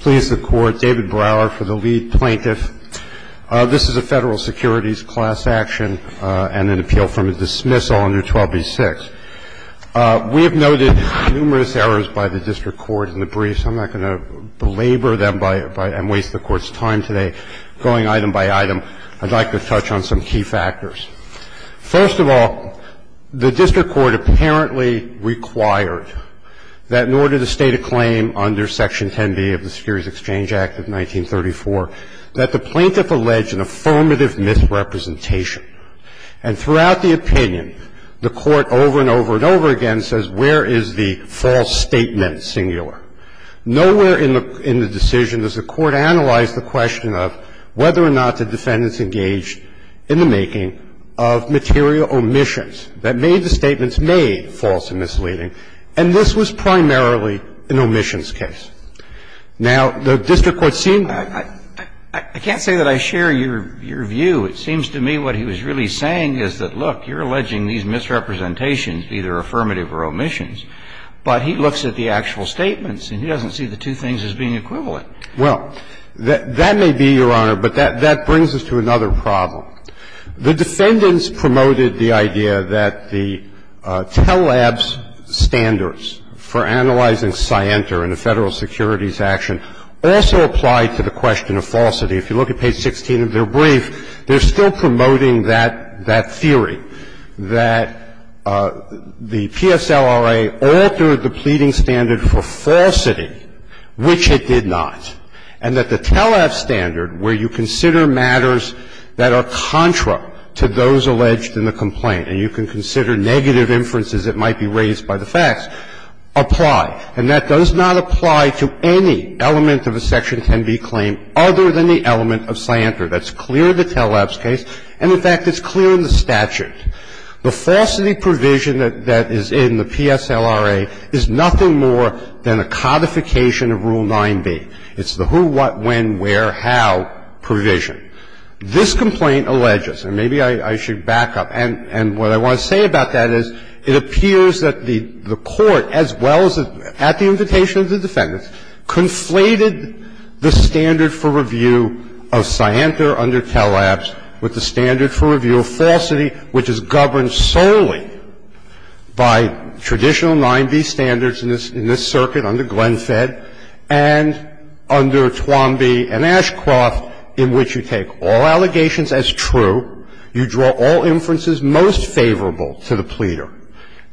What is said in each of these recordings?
Please, the Court, David Brower for the lead plaintiff. This is a federal securities class action and an appeal from a dismissal under 1286. We have noted numerous errors by the district court in the brief, so I'm not going to belabor them and waste the Court's time today going item by item. I'd like to touch on some key factors. First of all, the district court apparently required that in order to state a claim under Section 10b of the Securities Exchange Act of 1934, that the plaintiff allege an affirmative misrepresentation. And throughout the opinion, the Court over and over and over again says where is the false statement singular. Nowhere in the decision does the Court analyze the question of whether or not the plaintiff's misrepresentation is true. Now, the District Court, as I understand it, did not make a statement of material omissions that made the statements made false and misleading, and this was primarily an omissions case. Now, the district court seemed to be saying, I can't say that I share your view. It seems to me what he was really saying is that, look, you're alleging these misrepresentations, either affirmative or omissions, but he looks at the actual statements and he doesn't see the two things as being equivalent. Well, that may be, Your Honor, but that brings us to another problem. The defendants promoted the idea that the Tellab's standards for analyzing SIENTA in a Federal securities action also applied to the question of falsity. If you look at page 16 of their brief, they're still promoting that theory, that the Tellab's standard, where you consider matters that are contra to those alleged in the complaint, and you can consider negative inferences that might be raised by the facts, apply, and that does not apply to any element of a Section 10b claim other than the element of SIENTA. That's clear in the Tellab's case, and, in fact, it's clear in the statute. The falsity provision that is in the PSLRA is nothing more than a codification of Rule 9b. It's the who, what, when, where, how provision. This complaint alleges, and maybe I should back up, and what I want to say about that is it appears that the Court, as well as at the invitation of the defendants, conflated the standard for review of SIENTA under Tellab's with the standard for review of Falsity, which is governed solely by traditional 9b standards in this circuit under Glenfed and under Twombie and Ashcroft, in which you take all allegations as true, you draw all inferences most favorable to the pleader.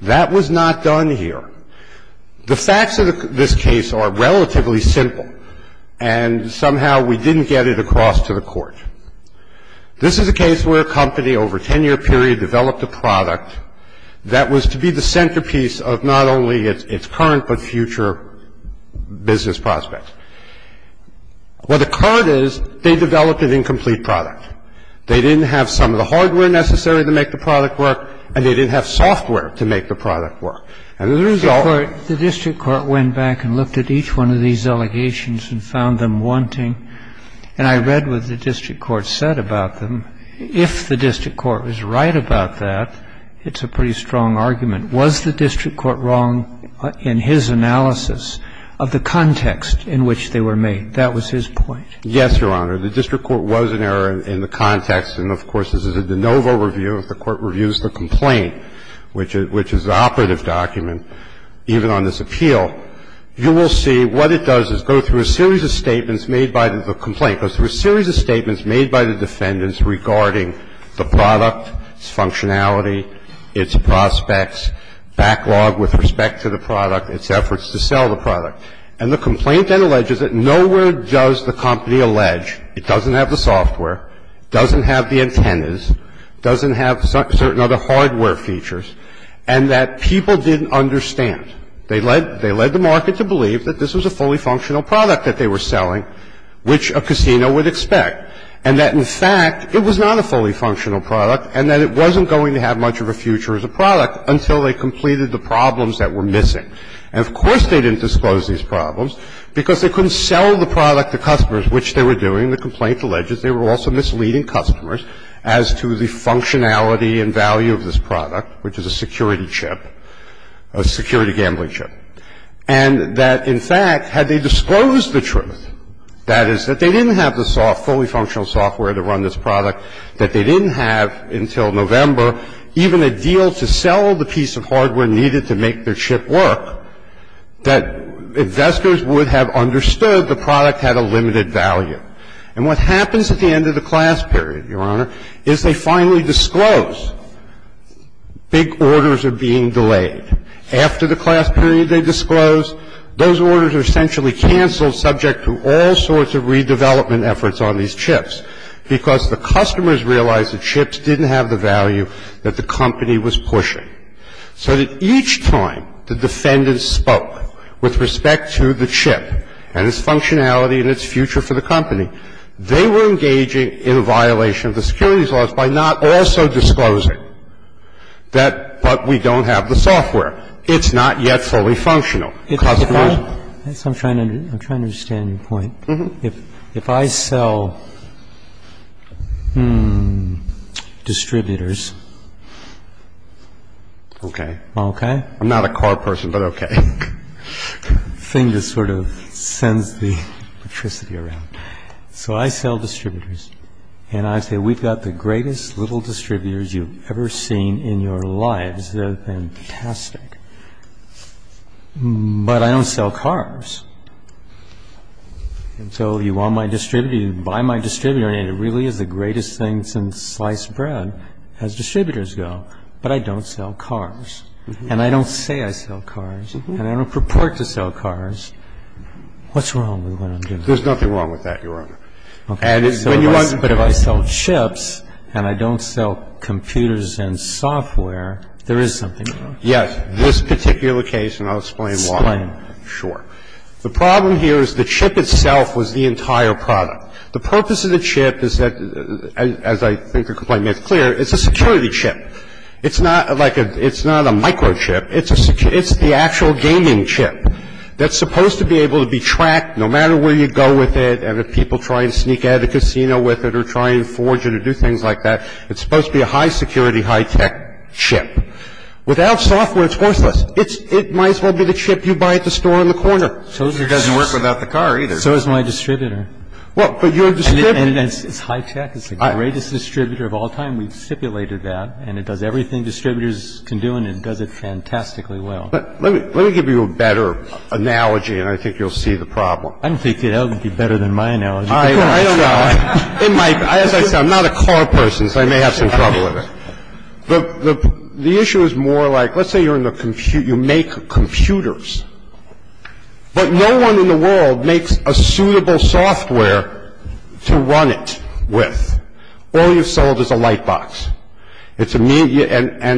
That was not done here. The facts of this case are relatively simple, and somehow we didn't get it across to the Court. This is a case where a company over a 10-year period developed a product that was to be the centerpiece of not only its current, but future business prospects. What occurred is they developed an incomplete product. They didn't have some of the hardware necessary to make the product work, and they didn't have software to make the product work. And as a result of that, the district court went back and looked at each one of these delegations and found them wanting. And I read what the district court said about them. If the district court was right about that, it's a pretty strong argument. Was the district court wrong in his analysis of the context in which they were made? That was his point. Yes, Your Honor. The district court was in error in the context. And, of course, this is a de novo review. If the court reviews the complaint, which is an operative document, even on this case, the complaint goes through a series of statements made by the defendant regarding the product, its functionality, its prospects, backlog with respect to the product, its efforts to sell the product. And the complaint then alleges that nowhere does the company allege it doesn't have the software, doesn't have the antennas, doesn't have certain other hardware features, and that people didn't understand. The complaint then alleges that the company didn't have the software, didn't have understand. They led the market to believe that this was a fully functional product that they were selling, which a casino would expect, and that, in fact, it was not a fully functional product and that it wasn't going to have much of a future as a product until they completed the problems that were missing. And the complaint then alleges that the company didn't have the software, didn't have the hardware, didn't have the antennas, didn't have the antennas, didn't have the security gambling chip, and that, in fact, had they disclosed the truth, that is, that they didn't have the fully functional software to run this product, that they didn't have until November even a deal to sell the piece of hardware needed to make their chip work, that investors would have understood the product had a limited value. And what happens at the end of the class period, Your Honor, is they finally disclose. Big orders are being delayed. After the class period, they disclose. Those orders are essentially canceled subject to all sorts of redevelopment efforts on these chips because the customers realize the chips didn't have the value that the company was pushing. It was a violation of the company's security law. So that each time the defendant spoke with respect to the chip and its functionality and its future for the company, they were engaging in a violation of the security laws by not also disclosing that but we don't have the software. It's not yet fully functional. I'm trying to understand your point. If I sell distributors. Okay. Okay. I'm not a car person, but okay. Thing that sort of sends the electricity around. So I sell distributors and I say we've got the greatest little distributors you've ever seen in your lives. They're fantastic. But I don't sell cars. So you want my distributor, you buy my distributor and it really is the greatest thing since sliced bread as distributors go. But I don't sell cars. And I don't say I sell cars. And I don't purport to sell cars. What's wrong with what I'm doing? There's nothing wrong with that, Your Honor. But if I sell chips and I don't sell computers and software, there is something wrong. Yes. This particular case, and I'll explain why. Explain. Sure. The problem here is the chip itself was the entire product. The purpose of the chip is that, as I think your complaint made clear, it's a security chip. It's not like a, it's not a microchip. It's the actual gaming chip that's supposed to be able to be tracked no matter where you go with it and if people try and sneak out of the casino with it or try and forge it or do things like that, it's supposed to be a high-security, high-tech chip. Without software, it's worthless. It might as well be the chip you buy at the store on the corner. It doesn't work without the car either. So is my distributor. Well, but your distributor. And it's high-tech. It's the greatest distributor of all time. We've stipulated that. And it does everything distributors can do and it does it fantastically well. Let me give you a better analogy and I think you'll see the problem. I don't think that would be better than my analogy. I don't know. As I said, I'm not a car person so I may have some trouble with it. The issue is more like, let's say you're in the, you make computers, but no one in the world makes a suitable software to run it with. All you've sold is a light box. And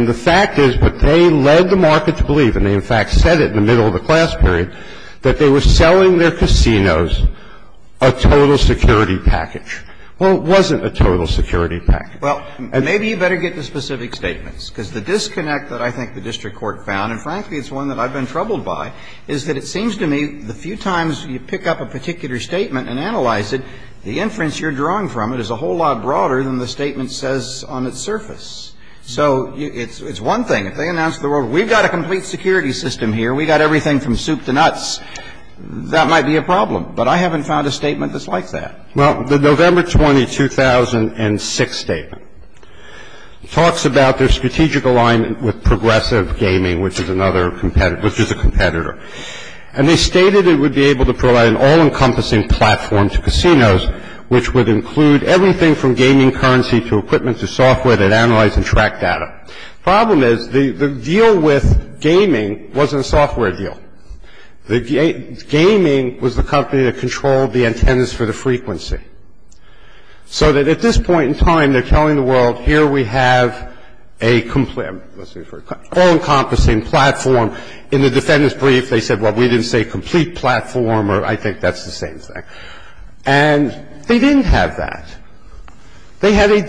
the fact is what they led the market to believe, and they in fact said it in the middle of the class period, that they were selling their casinos a total security package. Well, it wasn't a total security package. Well, and maybe you better get the specific statements. Because the disconnect that I think the district court found, and frankly it's one that I've been troubled by, is that it seems to me the few times you pick up a particular statement and analyze it, the inference you're drawing from it is a whole lot broader than the statement says on its surface. So it's one thing. If they announced to the world, we've got a complete security system here. We've got everything from soup to nuts. That might be a problem. But I haven't found a statement that's like that. Well, the November 20, 2006 statement talks about their strategic alignment with progressive gaming, which is another competitor, which is a competitor. And they stated it would be able to provide an all-encompassing platform to casinos, which would include everything from gaming currency to equipment to software that analyze and track data. The problem is the deal with gaming wasn't a software deal. Gaming was the company that controlled the antennas for the frequency. So that at this point in time, they're telling the world, here we have a all-encompassing platform. In the defendant's brief, they said, well, we didn't say complete platform, or I think that's the same thing. And they didn't have that. They had a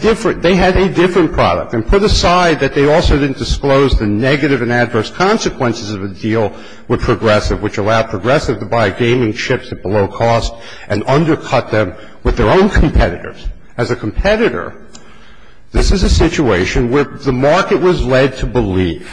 different product and put aside that they also didn't disclose the negative and adverse consequences of a deal with progressive, which allowed progressive to buy gaming chips at below cost and undercut them with their own competitors. As a competitor, this is a situation where the market was led to believe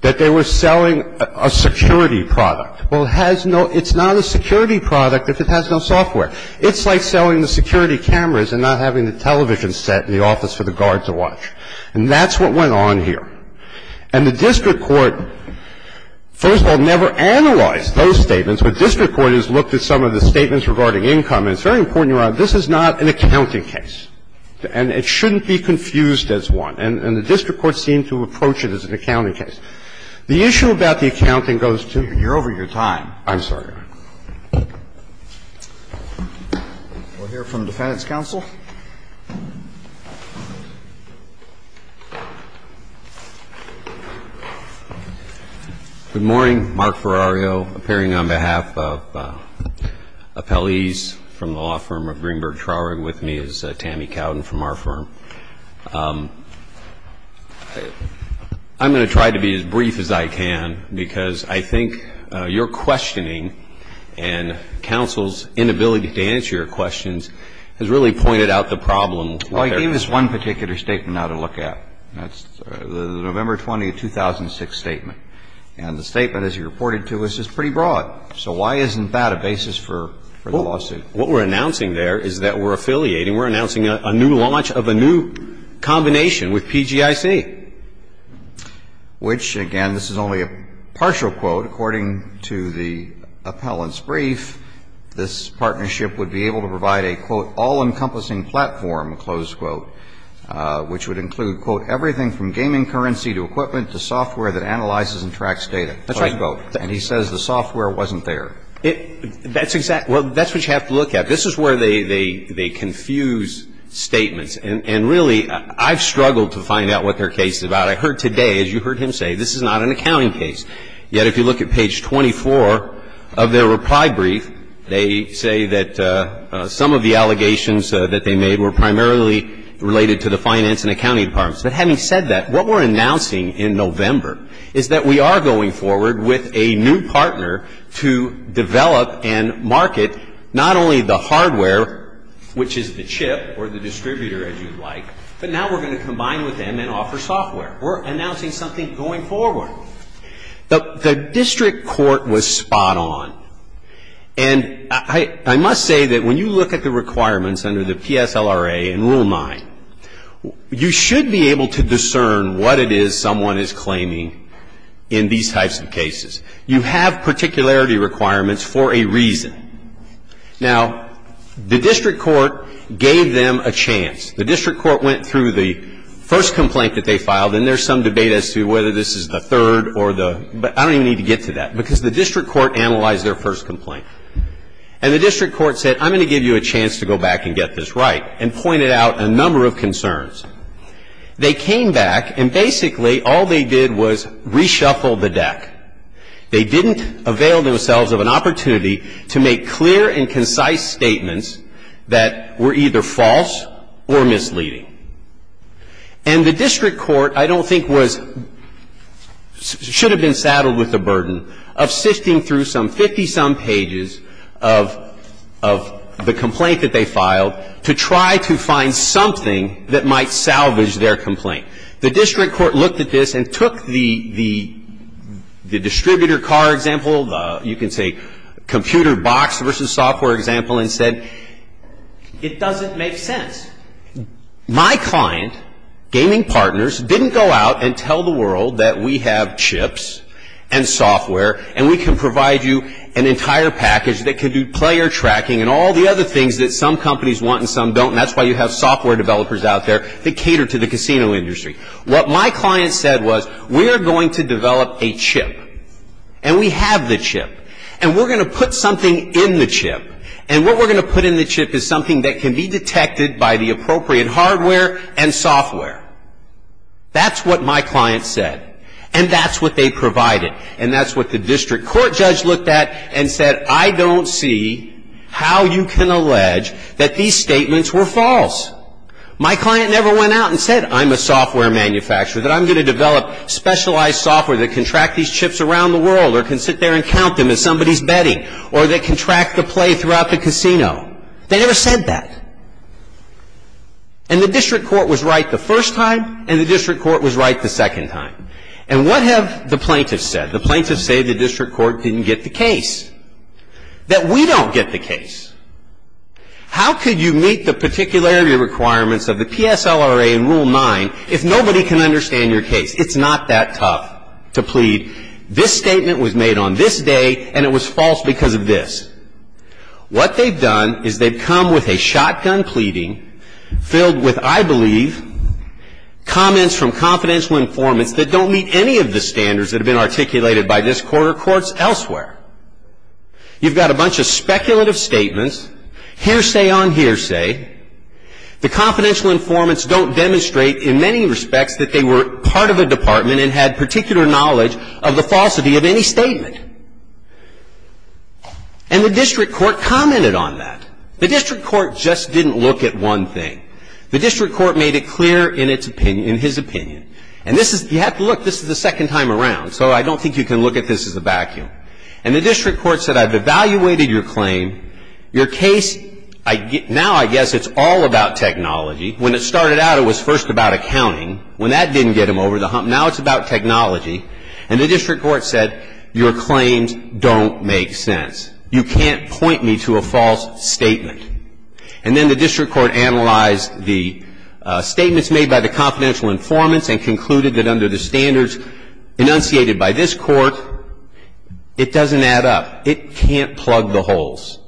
that they were selling a security product. Well, it's not a security product if it has no software. It's like selling the security cameras and not having the television set in the office for the guard to watch. And that's what went on here. And the district court, first of all, never analyzed those statements. But district court has looked at some of the statements regarding income. And it's very important, Your Honor, this is not an accounting case. And it shouldn't be confused as one. And the district court seemed to approach it as an accounting case. The issue about the accounting goes to the court. Thank you, Your Honor. We'll hear from the Defendant's Counsel. Good morning. Mark Ferrario appearing on behalf of appellees from the law firm of Greenberg Trauring with me is Tammy Cowden from our firm. I'm going to try to be as brief as I can, because I think your questioning and counsel's inability to answer your questions has really pointed out the problem. Well, I gave this one particular statement now to look at. That's the November 20, 2006 statement. And the statement, as you reported to us, is pretty broad. So why isn't that a basis for the lawsuit? Well, what we're announcing there is that we're affiliating. We're announcing a new launch of a new combination with PGIC. Which, again, this is only a partial quote. According to the appellant's brief, this partnership would be able to provide a, quote, all-encompassing platform, close quote, which would include, quote, everything from gaming currency to equipment to software that analyzes and tracks data. That's right. Close quote. And he says the software wasn't there. That's exactly. Well, that's what you have to look at. This is where they confuse statements. And really, I've struggled to find out what their case is about. I heard today, as you heard him say, this is not an accounting case. Yet, if you look at page 24 of their reply brief, they say that some of the allegations that they made were primarily related to the finance and accounting departments. But having said that, what we're announcing in November is that we are going forward with a new partner to develop and market not only the hardware, which is the chip or the distributor, as you'd like, but now we're going to combine with them and offer software. We're announcing something going forward. The district court was spot on. And I must say that when you look at the requirements under the PSLRA and Rule 9, you should be able to discern what it is someone is claiming in these types of cases. You have particularity requirements for a reason. Now, the district court gave them a chance. The district court went through the first complaint that they filed, and there's some debate as to whether this is the third or the ‑‑ I don't even need to get to that, because the district court analyzed their first complaint. And the district court said, I'm going to give you a chance to go back and get this right, and pointed out a number of concerns. They came back, and basically all they did was reshuffle the deck. They didn't avail themselves of an opportunity to make clear and concise statements that were either false or misleading. And the district court, I don't think, was ‑‑ should have been saddled with the burden of sifting through some 50‑some pages of the complaint that they filed to try to find something that might salvage their complaint. The district court looked at this and took the distributor car example, you can say computer box versus software example, and said, it doesn't make sense. My client, Gaming Partners, didn't go out and tell the world that we have chips and software and we can provide you an entire package that can do player tracking and all the other things that some companies want and some don't. And that's why you have software developers out there that cater to the casino industry. What my client said was, we're going to develop a chip. And we have the chip. And we're going to put something in the chip. And what we're going to put in the chip is something that can be detected by the appropriate hardware and software. That's what my client said. And that's what they provided. And that's what the district court judge looked at and said, I don't see how you can allege that these statements were false. My client never went out and said, I'm a software manufacturer, that I'm going to develop specialized software that can track these chips around the world or can sit there and count them as somebody's betting or that can track the play throughout the casino. They never said that. And the district court was right the first time. And the district court was right the second time. And what have the plaintiffs said? The plaintiffs say the district court didn't get the case. That we don't get the case. How could you meet the particularity requirements of the PSLRA in Rule 9 if nobody can understand your case? It's not that tough to plead. This statement was made on this day, and it was false because of this. What they've done is they've come with a shotgun pleading filled with, I believe, comments from confidential informants that don't meet any of the standards that have been articulated by this court or courts elsewhere. You've got a bunch of speculative statements, hearsay on hearsay. The confidential informants don't demonstrate in many respects that they were part of a department and had particular knowledge of the falsity of any statement. And the district court commented on that. The district court just didn't look at one thing. The district court made it clear in his opinion. And you have to look. This is the second time around, so I don't think you can look at this as a vacuum. And the district court said, I've evaluated your claim. Your case, now I guess it's all about technology. When it started out, it was first about accounting. When that didn't get him over the hump, now it's about technology. And the district court said, your claims don't make sense. You can't point me to a false statement. And then the district court analyzed the statements made by the confidential informants and concluded that under the standards enunciated by this court, it doesn't add up. It can't plug the holes.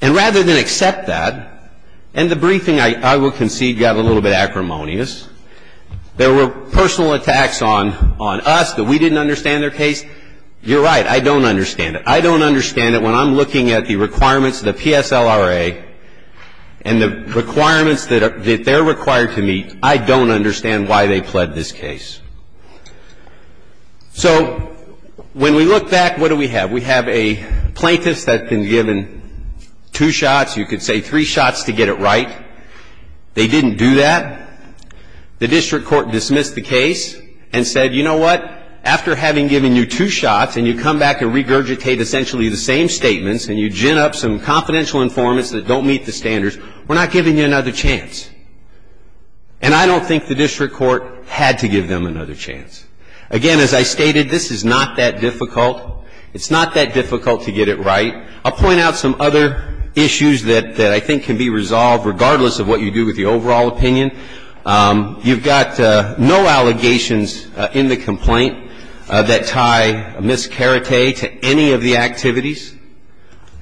And rather than accept that, and the briefing, I would concede, got a little bit acrimonious. There were personal attacks on us that we didn't understand their case. You're right. I don't understand it. I don't understand it when I'm looking at the requirements of the PSLRA and the requirements that they're required to meet. I don't understand why they pled this case. So when we look back, what do we have? We have a plaintiff that's been given two shots, you could say three shots, to get it right. They didn't do that. The district court dismissed the case and said, you know what? After having given you two shots and you come back and regurgitate essentially the same statements and you gin up some confidential informants that don't meet the standards, we're not giving you another chance. And I don't think the district court had to give them another chance. Again, as I stated, this is not that difficult. It's not that difficult to get it right. I'll point out some other issues that I think can be resolved regardless of what you do with the overall opinion. You've got no allegations in the complaint that tie Ms. Karatay to any of the activities,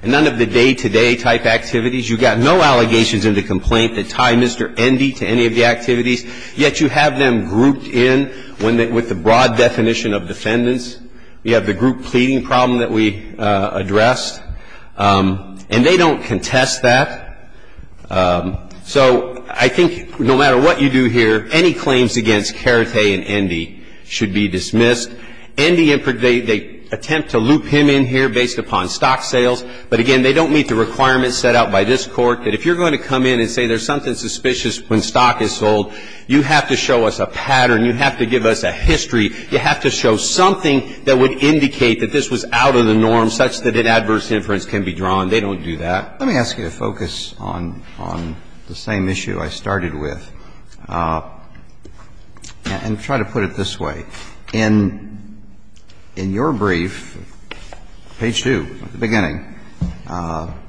none of the day-to-day type activities. You've got no allegations in the complaint that tie Mr. Endy to any of the activities, yet you have them grouped in with the broad definition of defendants. You have the group pleading problem that we addressed. And they don't contest that. So I think no matter what you do here, any claims against Karatay and Endy should be dismissed. Endy, they attempt to loop him in here based upon stock sales, but again, they don't meet the requirements set out by this Court that if you're going to come in and say there's something suspicious when stock is sold, you have to show us a pattern, you have to give us a history, you have to show something that would indicate that this was out of the norm such that an adverse inference can be drawn. They don't do that. Let me ask you to focus on the same issue I started with and try to put it this way. In your brief, page 2 at the beginning,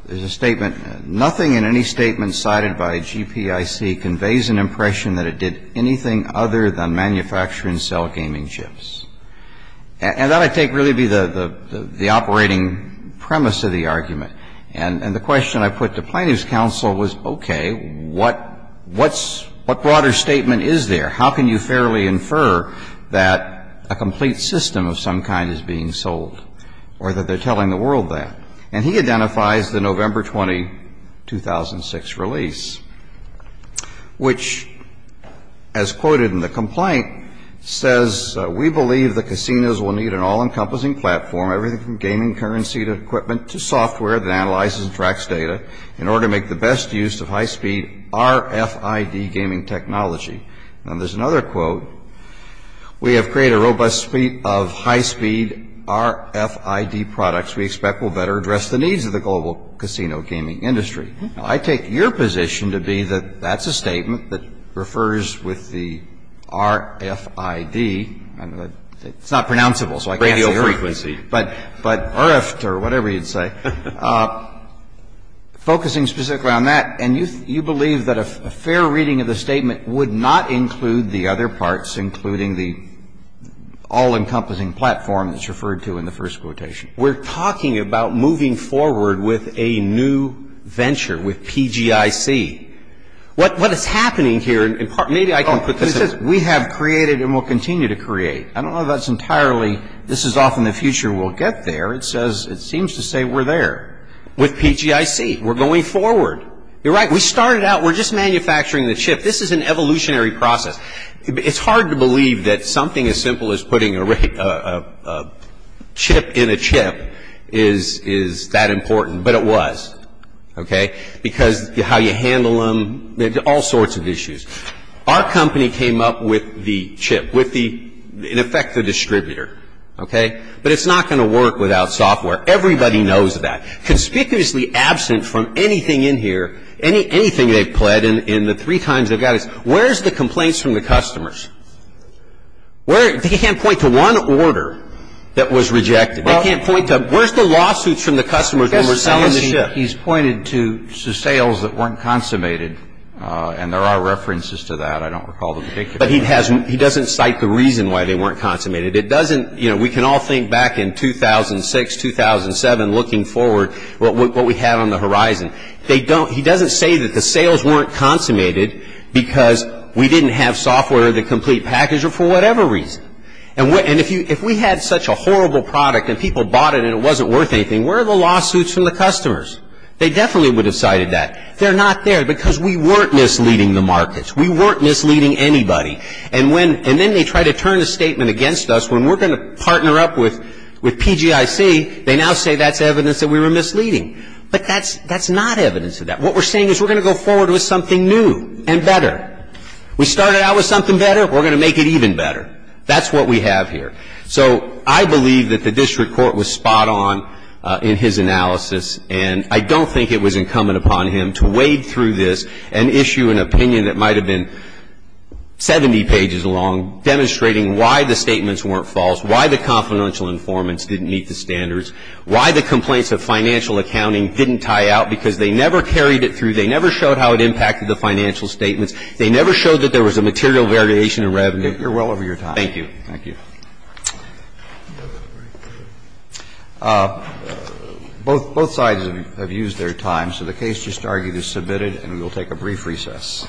there's a statement. Nothing in any statement cited by GPIC conveys an impression that it did anything other than manufacture and sell gaming chips. And that, I take, really be the operating premise of the argument. And the question I put to Plaintiff's counsel was, okay, what broader statement is there? How can you fairly infer that a complete system of some kind is being sold or that they're telling the world that? And he identifies the November 20, 2006 release, which, as quoted in the complaint, says, we believe the casinos will need an all-encompassing platform, everything from gaming currency to equipment to software that analyzes and tracks data in order to make the best use of high-speed RFID gaming technology. Now, there's another quote. We have created a robust suite of high-speed RFID products we expect will better address the needs of the global casino gaming industry. Now, I take your position to be that that's a statement that refers with the RFID. It's not pronounceable, so I can't say RFID. Radio frequency. But RFID or whatever you'd say. Focusing specifically on that, and you believe that a fair reading of the statement would not include the other parts, including the all-encompassing platform that's referred to in the first quotation. We're talking about moving forward with a new venture, with PGIC. What is happening here, in part, maybe I can put this in. It says, we have created and will continue to create. I don't know if that's entirely, this is often the future we'll get there. It seems to say we're there. With PGIC, we're going forward. You're right. We started out, we're just manufacturing the chip. This is an evolutionary process. It's hard to believe that something as simple as putting a chip in a chip is that important. But it was. Okay? Because how you handle them, all sorts of issues. Our company came up with the chip, with the, in effect, the distributor. Okay? But it's not going to work without software. Everybody knows that. Conspicuously absent from anything in here, anything they've pled in the three times they've got it, where's the complaints from the customers? Where, they can't point to one order that was rejected. They can't point to, where's the lawsuits from the customers when we're selling the chip? But he's pointed to sales that weren't consummated, and there are references to that. I don't recall them particularly. But he doesn't cite the reason why they weren't consummated. It doesn't, you know, we can all think back in 2006, 2007, looking forward, what we had on the horizon. They don't, he doesn't say that the sales weren't consummated because we didn't have software to complete packages, or for whatever reason. And if we had such a horrible product and people bought it and it wasn't worth anything, where are the lawsuits from the customers? They definitely would have cited that. They're not there because we weren't misleading the markets. We weren't misleading anybody. And when, and then they try to turn a statement against us when we're going to partner up with PGIC, they now say that's evidence that we were misleading. But that's not evidence of that. What we're saying is we're going to go forward with something new and better. We started out with something better, we're going to make it even better. That's what we have here. So I believe that the district court was spot on in his analysis. And I don't think it was incumbent upon him to wade through this and issue an opinion that might have been 70 pages long demonstrating why the statements weren't false, why the confidential informants didn't meet the standards, why the complaints of financial accounting didn't tie out, because they never carried it through. They never showed how it impacted the financial statements. They never showed that there was a material variation in revenue. You're well over your time. Thank you. Thank you. Both sides have used their time. So the case just argued is submitted and we will take a brief recess. All rise.